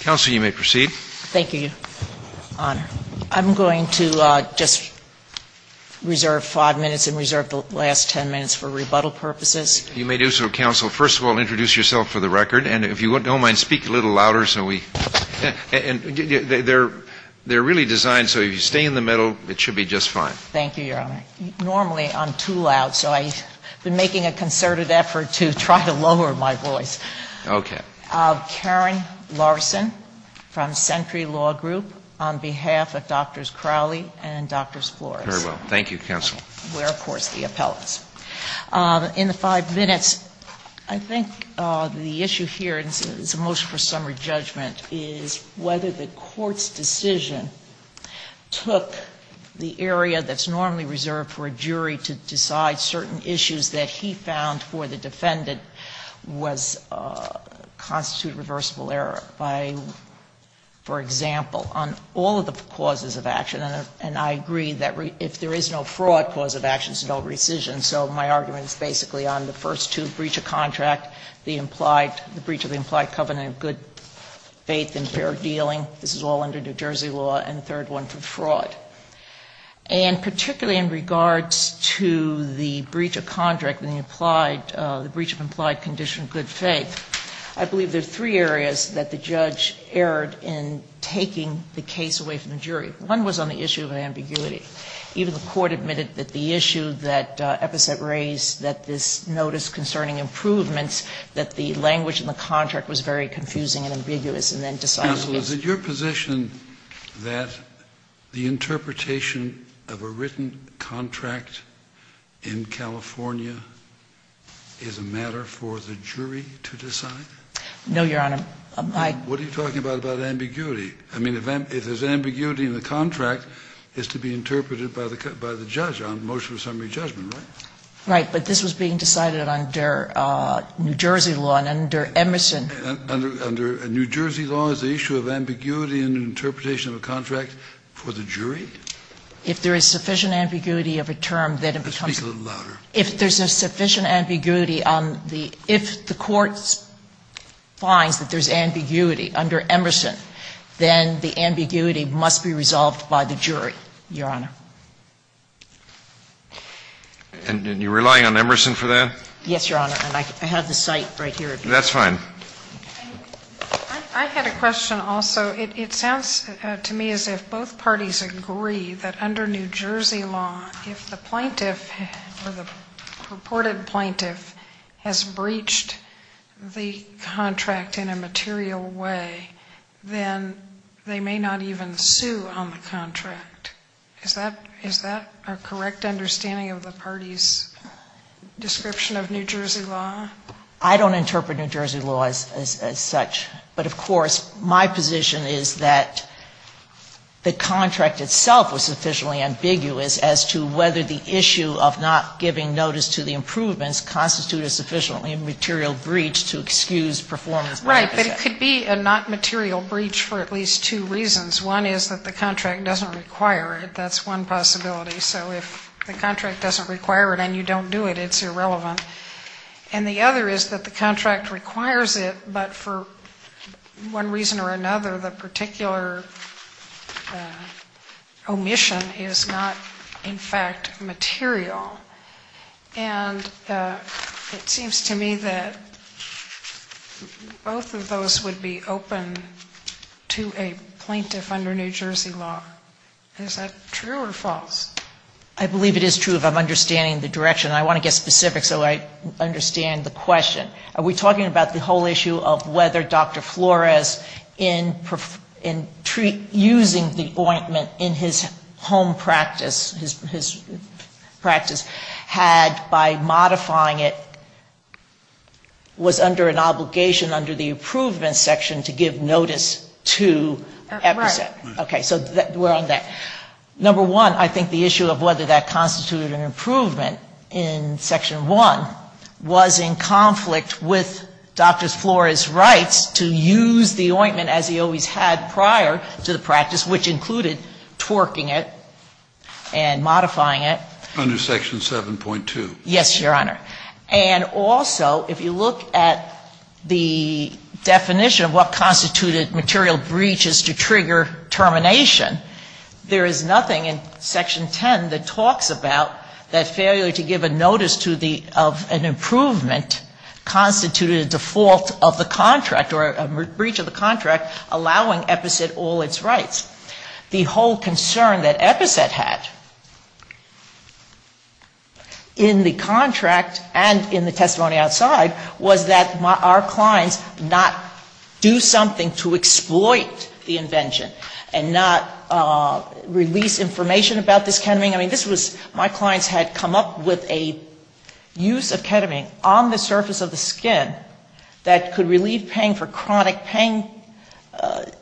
Counsel, you may proceed. Thank you, Your Honor. I'm going to just reserve five minutes and reserve the last ten minutes for rebuttal purposes. You may do so, Counsel. First of all, introduce yourself for the record, and if you don't mind, speak a little louder so we can hear you. They're really designed so if you stay in the middle, it should be just fine. Thank you, Your Honor. Normally, I'm too loud, so I've been making a concerted effort to try to lower my voice. Okay. Karen Larson from Century Law Group, on behalf of Drs. Crowley and Drs. Flores. Very well. Thank you, Counsel. We're, of course, the appellants. In the five minutes, I think the issue here is a motion for summary judgment is whether the Court's decision took the area that's normally reserved for a jury to decide certain issues that he found for the defendant was constitute reversible error by, for example, on all of the causes of action. And I agree that if there is no fraud, cause of action is no rescission. So my argument is basically on the first two, breach of contract, the implied the breach of the implied covenant of good faith and fair dealing. This is all under New Jersey law. And the third one for fraud. And particularly in regards to the breach of contract and the implied, the breach of implied condition of good faith, I believe there are three areas that the judge erred in taking the case away from the jury. One was on the issue of ambiguity. Even the Court admitted that the issue that Eppeset raised, that this notice concerning improvements, that the language in the contract was very confusing and ambiguous and then decided against it. Is it your position that the interpretation of a written contract in California is a matter for the jury to decide? No, Your Honor. What are you talking about, about ambiguity? I mean, if there's ambiguity in the contract, it's to be interpreted by the judge on motion of summary judgment, right? Right. But this was being decided under New Jersey law and under Emerson. Under New Jersey law, is the issue of ambiguity in the interpretation of a contract for the jury? If there is sufficient ambiguity of a term, then it becomes. Let's speak a little louder. If there's a sufficient ambiguity on the – if the Court finds that there's ambiguity under Emerson, then the ambiguity must be resolved by the jury, Your Honor. And you're relying on Emerson for that? Yes, Your Honor. And I have the site right here. That's fine. I had a question also. It sounds to me as if both parties agree that under New Jersey law, if the plaintiff or the purported plaintiff has breached the contract in a material way, then they may not even sue on the contract. Is that a correct understanding of the party's description of New Jersey law? I don't interpret New Jersey law as such. But, of course, my position is that the contract itself was sufficiently ambiguous as to whether the issue of not giving notice to the improvements constitutes a sufficiently material breach to excuse performance by the plaintiff. Right. But it could be a not material breach for at least two reasons. One is that the contract doesn't require it. That's one possibility. So if the contract doesn't require it and you don't do it, it's irrelevant. And the other is that the contract requires it, but for one reason or another, the particular omission is not, in fact, material. And it seems to me that both of those would be open to a plaintiff under New Jersey law. Is that true or false? I believe it is true if I'm understanding the direction. And I want to get specific so I understand the question. Are we talking about the whole issue of whether Dr. Flores, in using the ointment in his home practice, his practice, had by modifying it was under an obligation under the improvement section to give notice to EPSA. Right. Okay. So we're on that. Number one, I think the issue of whether that constituted an improvement in section 1 was in conflict with Dr. Flores' rights to use the ointment as he always had prior to the practice, which included twerking it and modifying it. Under section 7.2. Yes, Your Honor. And also, if you look at the definition of what constituted material breach is to trigger termination, there is nothing in section 10 that talks about that failure to give a notice of an improvement constituted a default of the contract or a breach of the contract allowing EPSA all its rights. The whole concern that EPSA had in the contract and in the testimony outside was that our clients not do something to exploit the invention and not release information about this ketamine. I mean, this was my clients had come up with a use of ketamine on the surface of the skin that could relieve pain for chronic pain,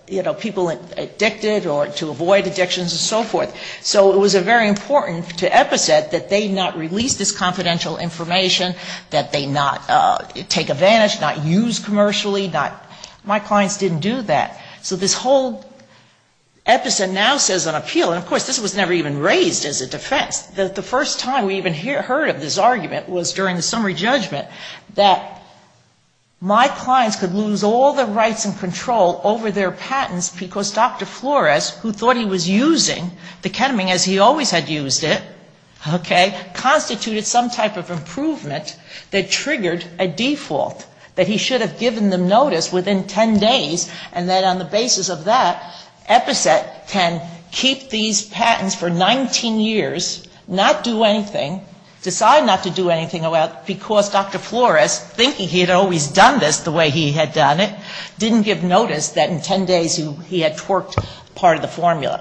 you know, people addicted or to avoid addictions and so forth. So it was very important to EPSA that they not release this confidential information, that they not take advantage, not use commercially. My clients didn't do that. So this whole EPSA now says on appeal, and, of course, this was never even raised as a defense. The first time we even heard of this argument was during the summary judgment that my clients could lose all their rights and control over their patents because Dr. Flores, who thought he was using the ketamine as he triggered a default, that he should have given them notice within 10 days and then on the basis of that, EPSA can keep these patents for 19 years, not do anything, decide not to do anything because Dr. Flores, thinking he had always done this the way he had done it, didn't give notice that in 10 days he had twerked part of the formula.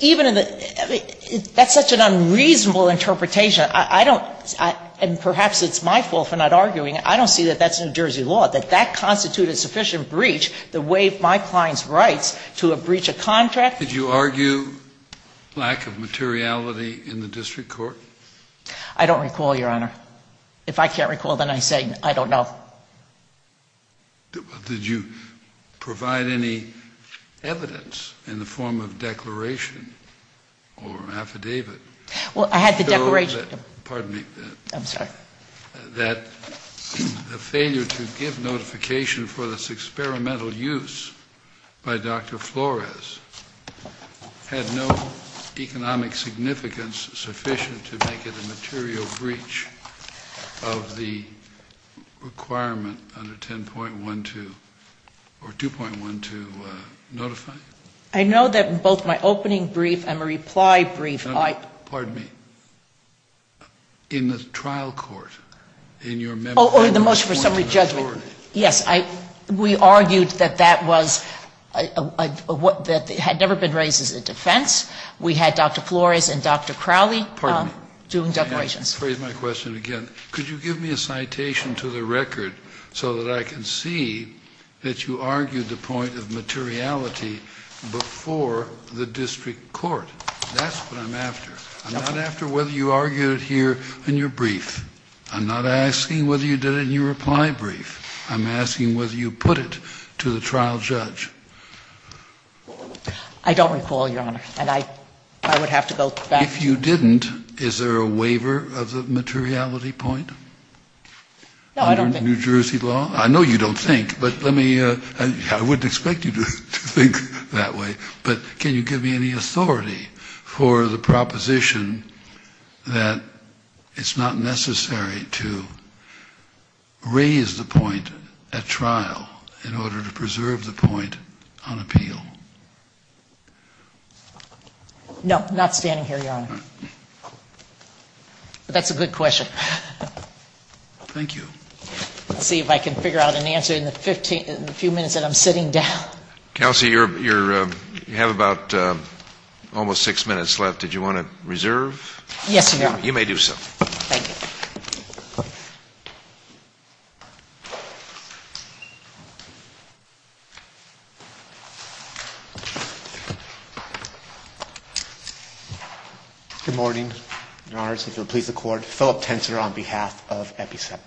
Even in the, that's such an unreasonable interpretation. I don't, and perhaps it's my fault for not arguing, I don't see that that's New Jersey law, that that constituted sufficient breach the way my client's rights to a breach of contract. Did you argue lack of materiality in the district court? I don't recall, Your Honor. If I can't recall, then I say I don't know. Did you provide any evidence in the form of declaration or affidavit? Well, I had the declaration. Pardon me. I'm sorry. That the failure to give notification for this experimental use by Dr. Flores had no economic significance sufficient to make it a material breach of the requirement under 10.12 or 2.12 notify? I know that in both my opening brief and my reply brief, I Pardon me. In the trial court, in your Oh, in the motion for summary judgment. Yes, we argued that that was, that it had never been raised as a defense. We had Dr. Flores and Dr. Crowley Pardon me. Doing declarations. Let me rephrase my question again. Could you give me a citation to the record so that I can see that you argued the point of materiality before the district court? That's what I'm after. I'm not after whether you argued it here in your brief. I'm not asking whether you did it in your reply brief. I'm asking whether you put it to the trial judge. I don't recall, Your Honor. And I would have to go back. If you didn't, is there a waiver of the materiality point? No, I don't think. Under New Jersey law? I know you don't think, but let me, I wouldn't expect you to think that way. But can you give me any authority for the proposition that it's not necessary to raise the point at trial in order to preserve the point on appeal? No, not standing here, Your Honor. That's a good question. Thank you. Let's see if I can figure out an answer in the few minutes that I'm sitting down. Kelsey, you have about almost six minutes left. Did you want to reserve? Yes, Your Honor. You may do so. Thank you. Good morning, Your Honors. If you'll please accord Philip Tensor on behalf of EPISET.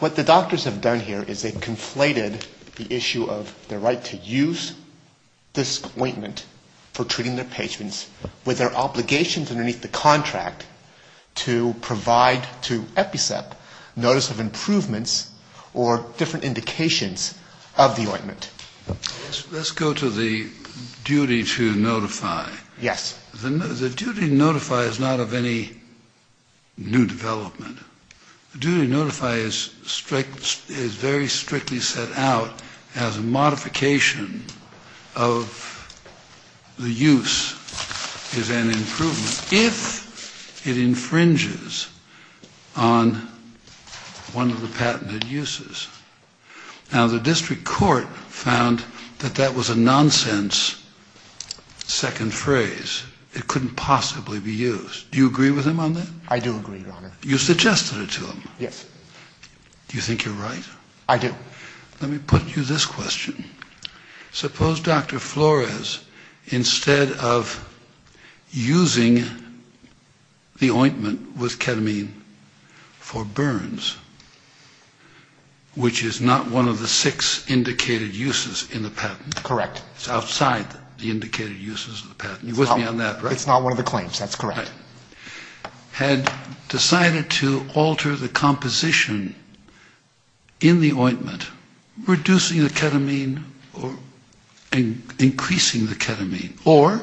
What the doctors have done here is they've conflated the issue of the right to use this ointment for treating their patients with their obligations underneath the contract to provide to EPISET notice of improvements or different indications of the ointment. Let's go to the duty to notify. Yes. The duty to notify is not of any new development. The duty to notify is very strictly set out as a modification of the use as an improvement if it infringes on one of the patented uses. Now, the district court found that that was a nonsense second phrase. It couldn't possibly be used. Do you agree with him on that? I do agree, Your Honor. You suggested it to him. Yes. Do you think you're right? I do. Let me put you this question. Suppose Dr. Flores, instead of using the ointment with ketamine for burns, which is not one of the six indicated uses in the patent. Correct. It's outside the indicated uses of the patent. You're with me on that, right? It's not one of the claims. That's correct. had decided to alter the composition in the ointment, reducing the ketamine or increasing the ketamine, or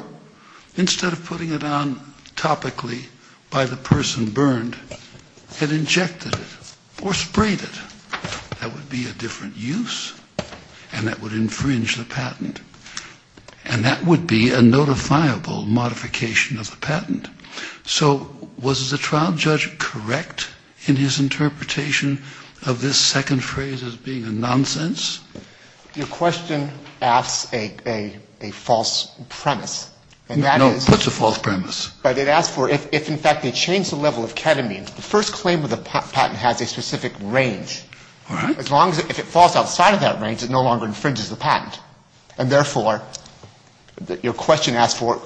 instead of putting it on topically by the person burned, had injected it or sprayed it. That would be a different use, and that would infringe the patent. And that would be a notifiable modification of the patent. So was the trial judge correct in his interpretation of this second phrase as being a nonsense? Your question asks a false premise. No, it puts a false premise. But it asks for if, in fact, they change the level of ketamine, the first claim of the patent has a specific range. All right. As long as it falls outside of that range, it no longer infringes the patent. And, therefore, your question asks for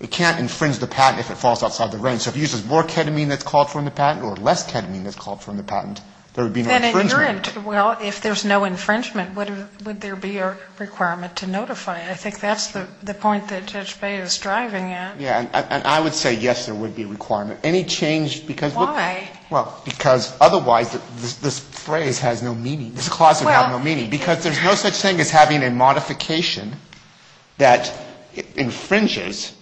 it can't infringe the patent if it falls outside the range. So if it uses more ketamine that's called for in the patent or less ketamine that's called for in the patent, there would be no infringement. Well, if there's no infringement, would there be a requirement to notify it? I think that's the point that Judge Bay is striving at. Yeah. And I would say, yes, there would be a requirement. Any change? Why? Well, because otherwise this phrase has no meaning. This clause would have no meaning. Because there's no such thing as having a modification that infringes.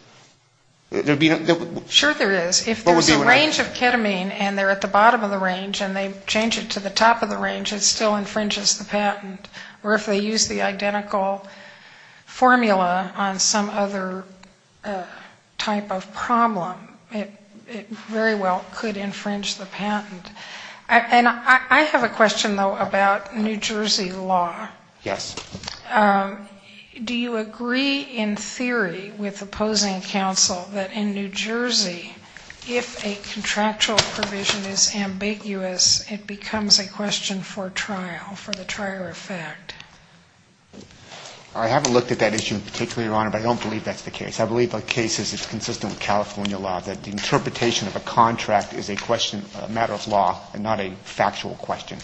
Sure there is. If there's a range of ketamine and they're at the bottom of the range and they change it to the top of the range, it still infringes the patent. Or if they use the identical formula on some other type of problem, it very well could infringe the patent. And I have a question, though, about New Jersey law. Yes. Do you agree in theory with opposing counsel that in New Jersey, if a contractual provision is ambiguous, it becomes a question for trial, for the trial effect? I haven't looked at that issue in particular, Your Honor, but I don't believe that's the case. I believe the case is consistent with California law, that the interpretation of a contract is a matter of law and not a factual question.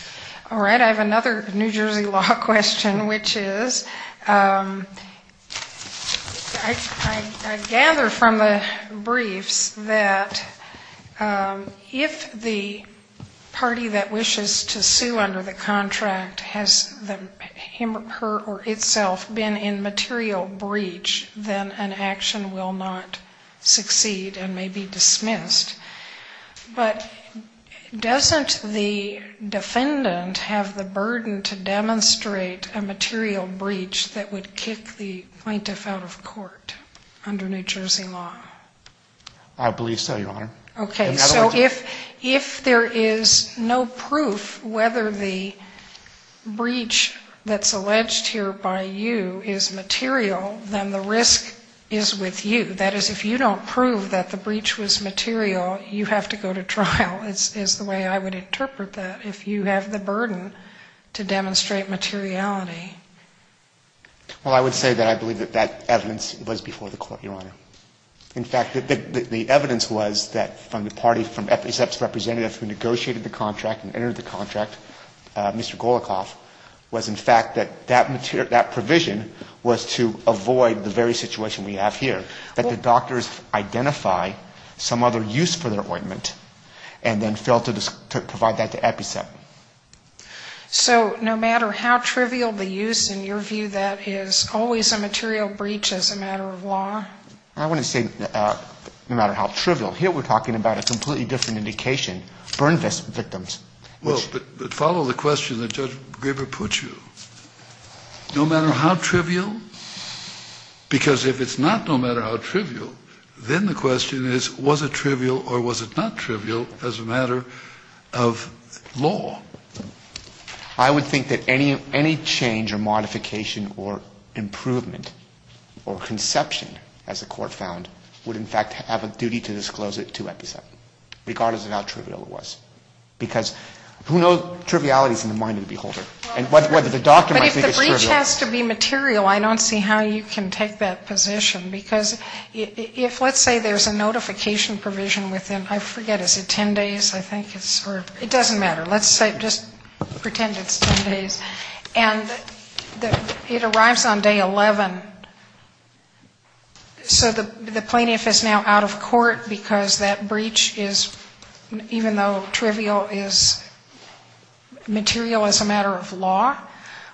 All right. I have another New Jersey law question, which is I gather from the briefs that if the party that wishes to sue under the contract has him or her or itself been in material breach, then an action will not succeed and may be dismissed. But doesn't the defendant have the burden to demonstrate a material breach that would kick the plaintiff out of court under New Jersey law? I believe so, Your Honor. Okay. So if there is no proof whether the breach that's alleged here by you is material, then the risk is with you. That is, if you don't prove that the breach was material, you have to go to trial, is the way I would interpret that, if you have the burden to demonstrate materiality. Well, I would say that I believe that that evidence was before the Court, Your Honor. In fact, the evidence was that from the party, from EPICEP's representative who negotiated the contract and entered the contract, Mr. Golikoff, was in fact that that provision was to avoid the very situation we have here, that the doctors identify some other use for their ointment and then fail to provide that to EPICEP. So no matter how trivial the use, in your view, that is always a material breach as a matter of law? I wouldn't say no matter how trivial. Here we're talking about a completely different indication, burn victims. Well, but follow the question that Judge Graber put you. No matter how trivial? Because if it's not no matter how trivial, then the question is was it trivial or was it not trivial as a matter of law? I would think that any change or modification or improvement or conception, as the Court found, would in fact have a duty to disclose it to EPICEP, regardless of how trivial it was. Because who knows trivialities in the mind of the beholder? I don't see how you can take that position. Because if let's say there's a notification provision within, I forget, is it 10 days? I think it's or it doesn't matter. Let's say just pretend it's 10 days. And it arrives on day 11. So the plaintiff is now out of court because that breach is, even though trivial, is material as a matter of law?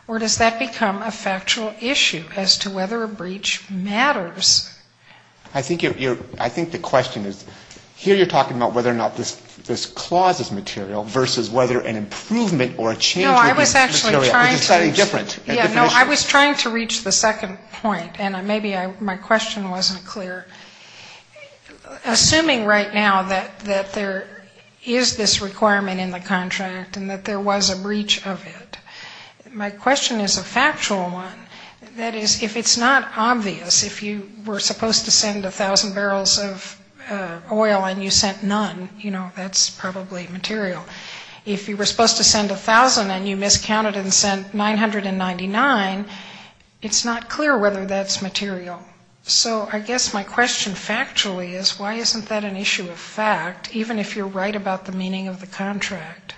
Or does that become a factual issue as to whether a breach matters? I think the question is here you're talking about whether or not this clause is material versus whether an improvement or a change is material. No, I was actually trying to reach the second point. And maybe my question wasn't clear. Assuming right now that there is this requirement in the contract and that there was a breach of it, my question is a factual one. That is, if it's not obvious, if you were supposed to send 1,000 barrels of oil and you sent none, you know, that's probably material. If you were supposed to send 1,000 and you miscounted and sent 999, it's not clear whether that's material. So I guess my question factually is why isn't that an issue of fact, even if you're right about the meaning of the contract?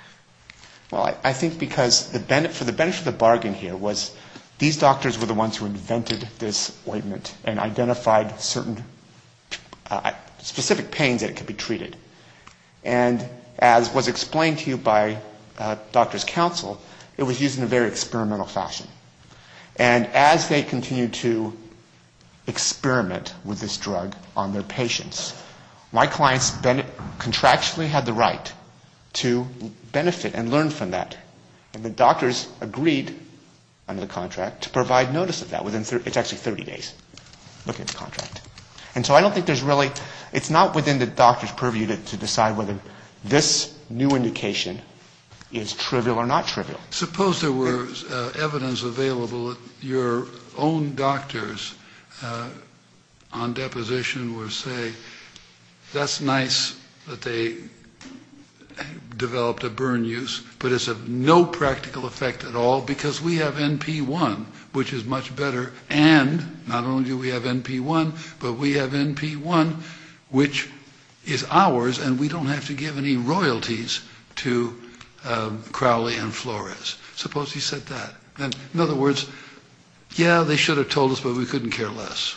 Well, I think because the benefit of the bargain here was these doctors were the ones who invented this ointment and identified certain specific pains that it could be treated. And as was explained to you by doctor's counsel, it was used in a very experimental fashion. And as they continued to experiment with this drug on their patients, my clients contractually had the right to benefit and learn from that. And the doctors agreed under the contract to provide notice of that within, it's actually 30 days, looking at the contract. And so I don't think there's really, it's not within the doctor's purview to decide whether this new indication is trivial or not trivial. Suppose there were evidence available that your own doctors on deposition would say, that's nice that they developed a burn use, but it's of no practical effect at all because we have NP1, which is much better. And not only do we have NP1, but we have NP1, which is ours, and we don't have to give any royalties to Crowley and Flores. Suppose he said that. In other words, yeah, they should have told us, but we couldn't care less.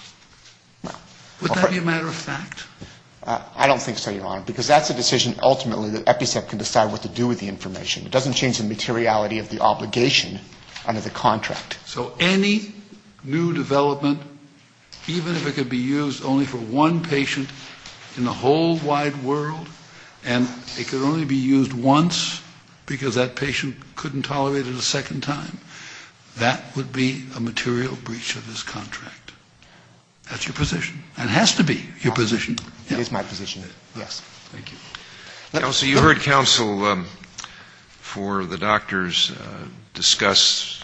Would that be a matter of fact? I don't think so, Your Honor, because that's a decision ultimately that EPICET can decide what to do with the information. It doesn't change the materiality of the obligation under the contract. So any new development, even if it could be used only for one patient in the whole wide world, and it could only be used once because that patient couldn't tolerate it a second time, that would be a material breach of this contract. That's your position. It has to be your position. It is my position, yes. Counsel, you heard counsel for the doctors discuss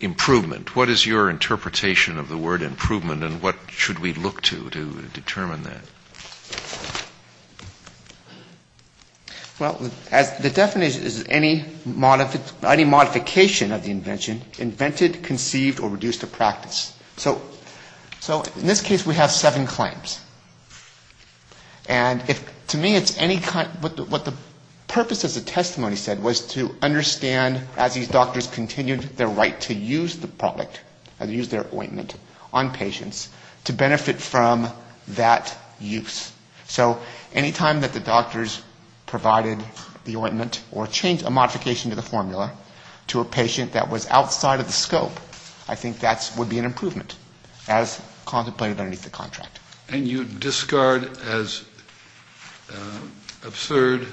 improvement. What is your interpretation of the word improvement and what should we look to to determine that? Well, the definition is any modification of the invention invented, conceived, or reduced to practice. So in this case we have seven claims. And to me it's any kind of what the purpose of the testimony said was to understand, as these doctors continued their right to use the product, to use their ointment on patients, to benefit from that use. So any time that the doctors provided the ointment or changed a modification to the formula to a patient that was outside of the scope, I think that would be an improvement, as contemplated underneath the contract. And you'd discard as absurd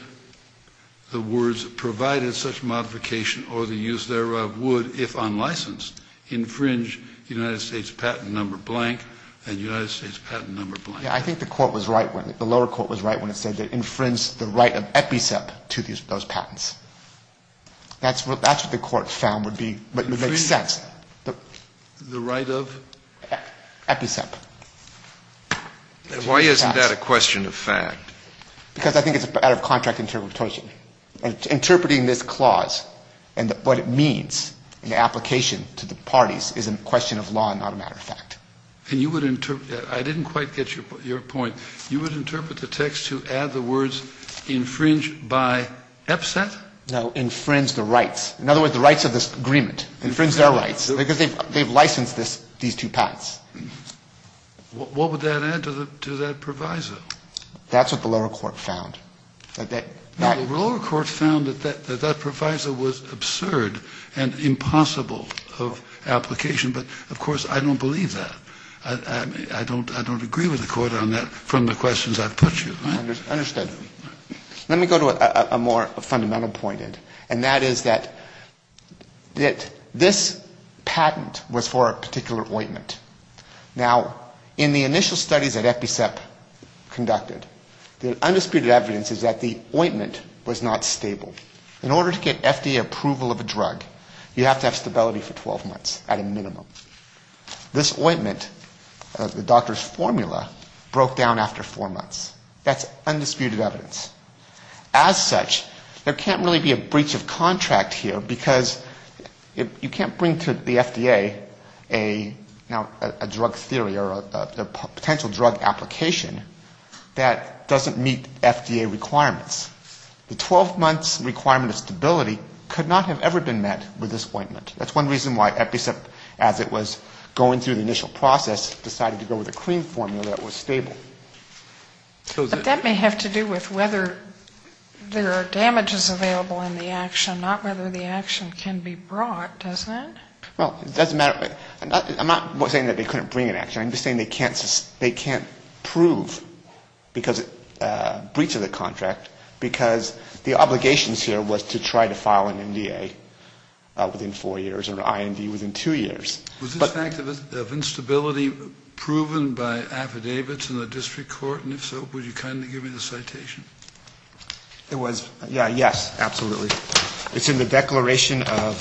the words provided such modification or the use thereof would, if unlicensed, infringe United States patent number blank and United States patent number blank. I think the lower court was right when it said it infringed the right of EPICEP to those patents. That's what the court found would make sense. The right of? EPICEP. Why isn't that a question of fact? Because I think it's out of contract interpretation. Interpreting this clause and what it means in the application to the parties is a question of law and not a matter of fact. I didn't quite get your point. You would interpret the text to add the words infringe by EPICEP? No, infringe the rights. In other words, the rights of this agreement. Infringe their rights. Because they've licensed these two patents. What would that add to that proviso? That's what the lower court found. The lower court found that that proviso was absurd and impossible of application. But, of course, I don't believe that. I don't agree with the court on that from the questions I've put you. Understood. Let me go to a more fundamental point. And that is that this patent was for a particular ointment. Now, in the initial studies that EPICEP conducted, the undisputed evidence is that the ointment was not stable. In order to get FDA approval of a drug, you have to have stability for 12 months at a minimum. This ointment, the doctor's formula, broke down after four months. That's undisputed evidence. As such, there can't really be a breach of contract here because you can't bring to the FDA a drug theory or a potential drug application that doesn't meet FDA requirements. The 12 months requirement of stability could not have ever been met with this ointment. That's one reason why EPICEP, as it was going through the initial process, decided to go with a clean formula that was stable. But that may have to do with whether there are damages available in the action, not whether the action can be brought, doesn't it? Well, it doesn't matter. I'm not saying that they couldn't bring an action. I'm just saying they can't prove a breach of the contract because the obligations here was to try to file an NDA within four years or an IMD within two years. Was this fact of instability proven by affidavits in the district court? And if so, would you kindly give me the citation? It was. Yeah, yes, absolutely. It's in the Declaration of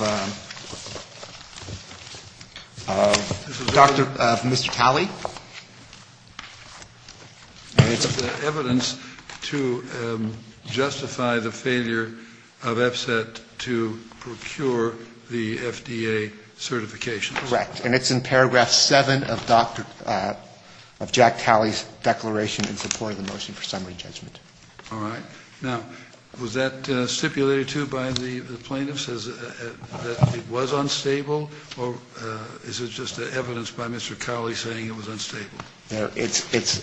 Mr. Talbot. Jack Talley. Evidence to justify the failure of EPCET to procure the FDA certification. Correct. And it's in paragraph seven of Jack Talley's declaration in support of the motion for summary judgment. All right. Now, was that stipulated, too, by the plaintiffs, that it was unstable? Or is it just evidence by Mr. Crowley saying it was unstable? It's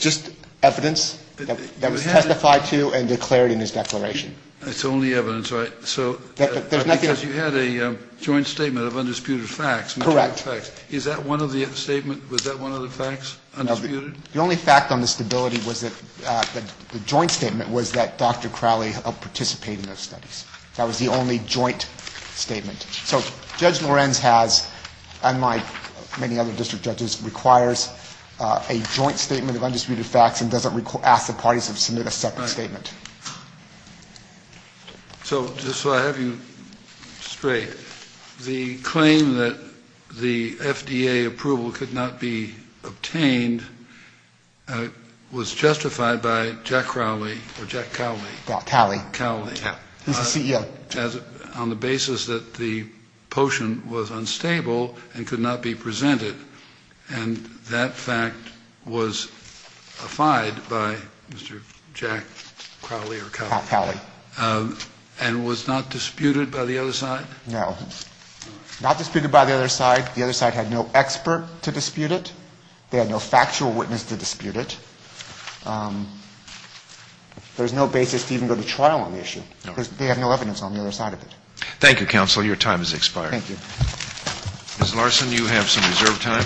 just evidence that was testified to and declared in his declaration. It's only evidence, right? Because you had a joint statement of undisputed facts. Correct. Is that one of the statements? Was that one of the facts? Undisputed? The only fact on the stability was that the joint statement was that Dr. Crowley participated in those studies. That was the only joint statement. So Judge Lorenz has, unlike many other district judges, requires a joint statement of undisputed facts and doesn't ask the parties to submit a separate statement. So just so I have you straight, the claim that the FDA approval could not be obtained was justified by Jack Crowley or Jack Talley. Talley. Cowley. He's the CEO. On the basis that the potion was unstable and could not be presented, and that fact was affied by Mr. Jack Crowley or Talley. Talley. And was not disputed by the other side? No. Not disputed by the other side. The other side had no expert to dispute it. They had no factual witness to dispute it. There's no basis to even go to trial on the issue. They have no evidence on the other side of it. Thank you, counsel. Your time has expired. Thank you. Ms. Larson, you have some reserved time.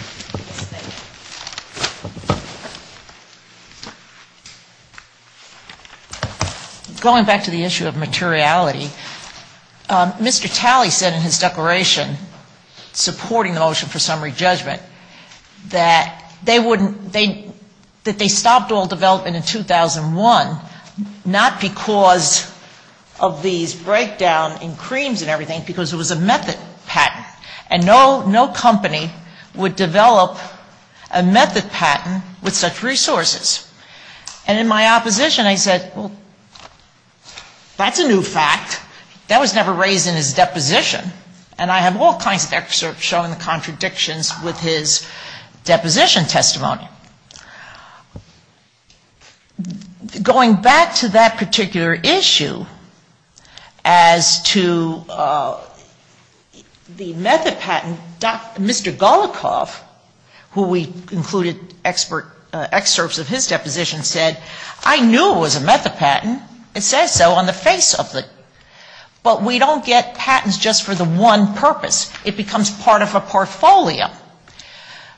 Going back to the issue of materiality, Mr. Talley said in his declaration supporting the motion for summary judgment that they stopped all development in 2001 not because of these breakdown in creams and everything, because it was a method patent. And no company would develop a method patent with such resources. And in my opposition, I said, well, that's a new fact. That was never raised in his deposition. And I have all kinds of excerpts showing the contradictions with his deposition testimony. Going back to that particular issue as to the method patent, Mr. Golikoff, who we included excerpts of his deposition, said, I knew it was a method patent. It says so on the face of it. But we don't get patents just for the one purpose. It becomes part of a portfolio.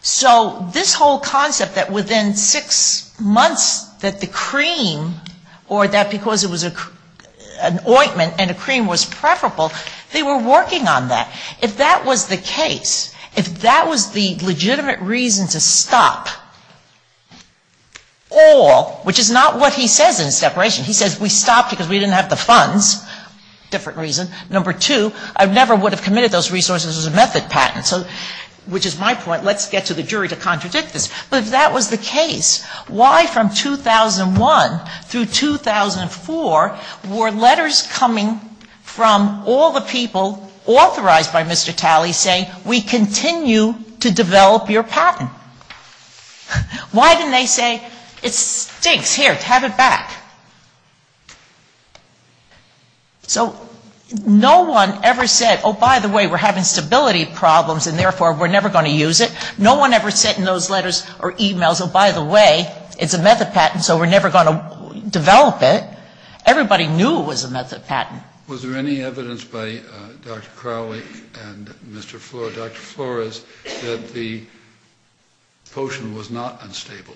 So this whole concept that within six months that the cream or that because it was an ointment and a cream was preferable, they were working on that. If that was the case, if that was the legitimate reason to stop all, which is not what he says in his separation. He says we stopped because we didn't have the funds, different reason. Number two, I never would have committed those resources as a method patent, which is my point. Let's get to the jury to contradict this. But if that was the case, why from 2001 through 2004 were letters coming from all the people authorized by Mr. Talley saying we continue to develop your patent? Why didn't they say it stinks, here, have it back? So no one ever said, oh, by the way, we're having stability problems and therefore we're never going to use it. No one ever said in those letters or e-mails, oh, by the way, it's a method patent, so we're never going to develop it. Everybody knew it was a method patent. Was there any evidence by Dr. Crowley and Mr. Flores, Dr. Flores, that the potion was not unstable?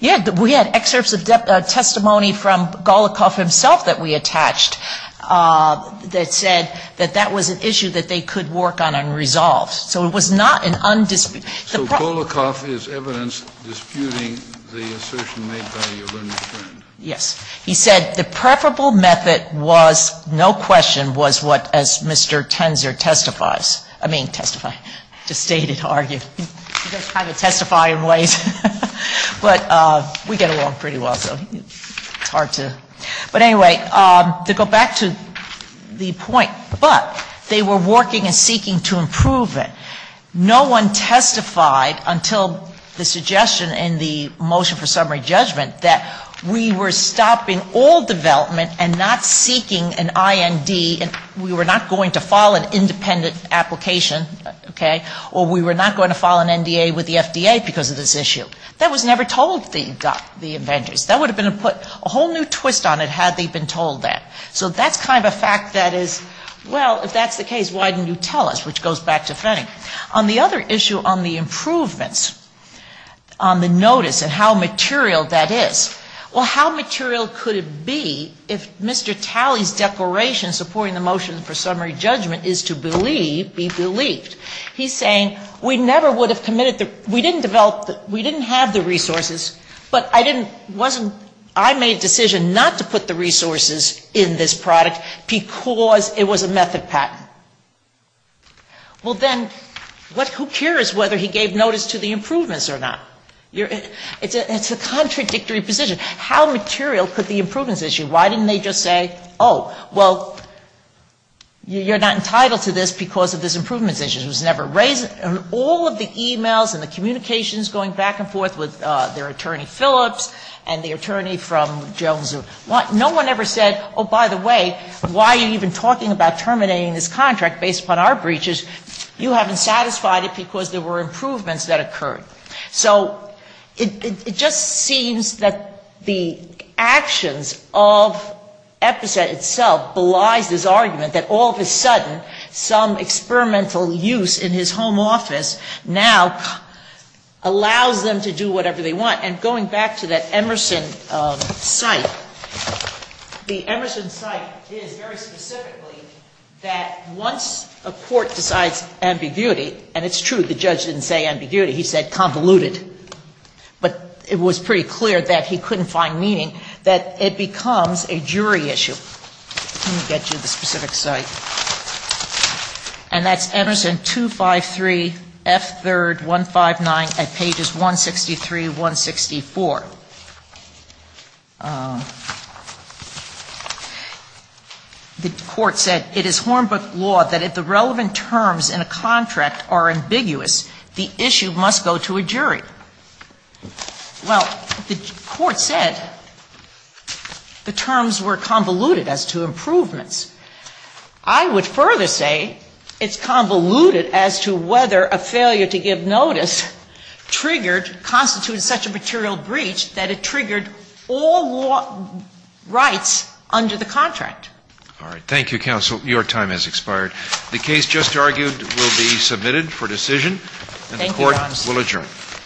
Yeah. We had excerpts of testimony from Golikoff himself that we attached that said that that was an issue that they could work on unresolved. So it was not an undisputed. So Golikoff is evidence disputing the assertion made by your learned friend. Yes. He said the preferable method was, no question, was what, as Mr. Tenzer testifies, I mean testifies, just stated, argued. He doesn't kind of testify in ways, but we get along pretty well, so it's hard to. But anyway, to go back to the point, but they were working and seeking to improve it. No one testified until the suggestion in the motion for summary judgment that we were stopping all development and not seeking an IND, and we were not going to file an independent application, okay, or we were not going to file an NDA with the FDA because of this issue. That was never told the inventors. That would have been a whole new twist on it had they been told that. So that's kind of a fact that is, well, if that's the case, why didn't you tell us, which goes back to Fenning. On the other issue, on the improvements, on the notice and how material that is, well, how material could it be if Mr. Talley's declaration supporting the motion for summary judgment is to believe, be believed. He's saying we never would have committed, we didn't develop, we didn't have the resources, but I didn't, wasn't, I made a decision not to put the resources in this product because it was a method patent. Well, then, who cares whether he gave notice to the improvements or not? It's a contradictory position. How material could the improvements issue? Why didn't they just say, oh, well, you're not entitled to this because of this improvements issue. And all of the e-mails and the communications going back and forth with their attorney Phillips and the attorney from Jones. No one ever said, oh, by the way, why are you even talking about terminating this contract based upon our breaches? You haven't satisfied it because there were improvements that occurred. So it just seems that the actions of EPCET itself belies this argument that all of a sudden some experimental use of the patent, some experimental use in his home office now allows them to do whatever they want. And going back to that Emerson cite, the Emerson cite is very specifically that once a court decides ambiguity, and it's true, the judge didn't say ambiguity, he said convoluted, but it was pretty clear that he couldn't find meaning, that it becomes a jury issue. Let me get you the specific cite. And that's Emerson 253F3159 at pages 163, 164. The court said, it is Hornbook law that if the relevant terms in a contract are ambiguous, the issue must go to a jury. Well, the court said the terms were convoluted as to improvements. I would further say it's convoluted as to whether a failure to give notice triggered, constitutes such a material breach that it triggered all rights under the contract. All right. Thank you, counsel. Your time has expired. The case just argued will be submitted for decision. Thank you, Your Honor. The court will adjourn.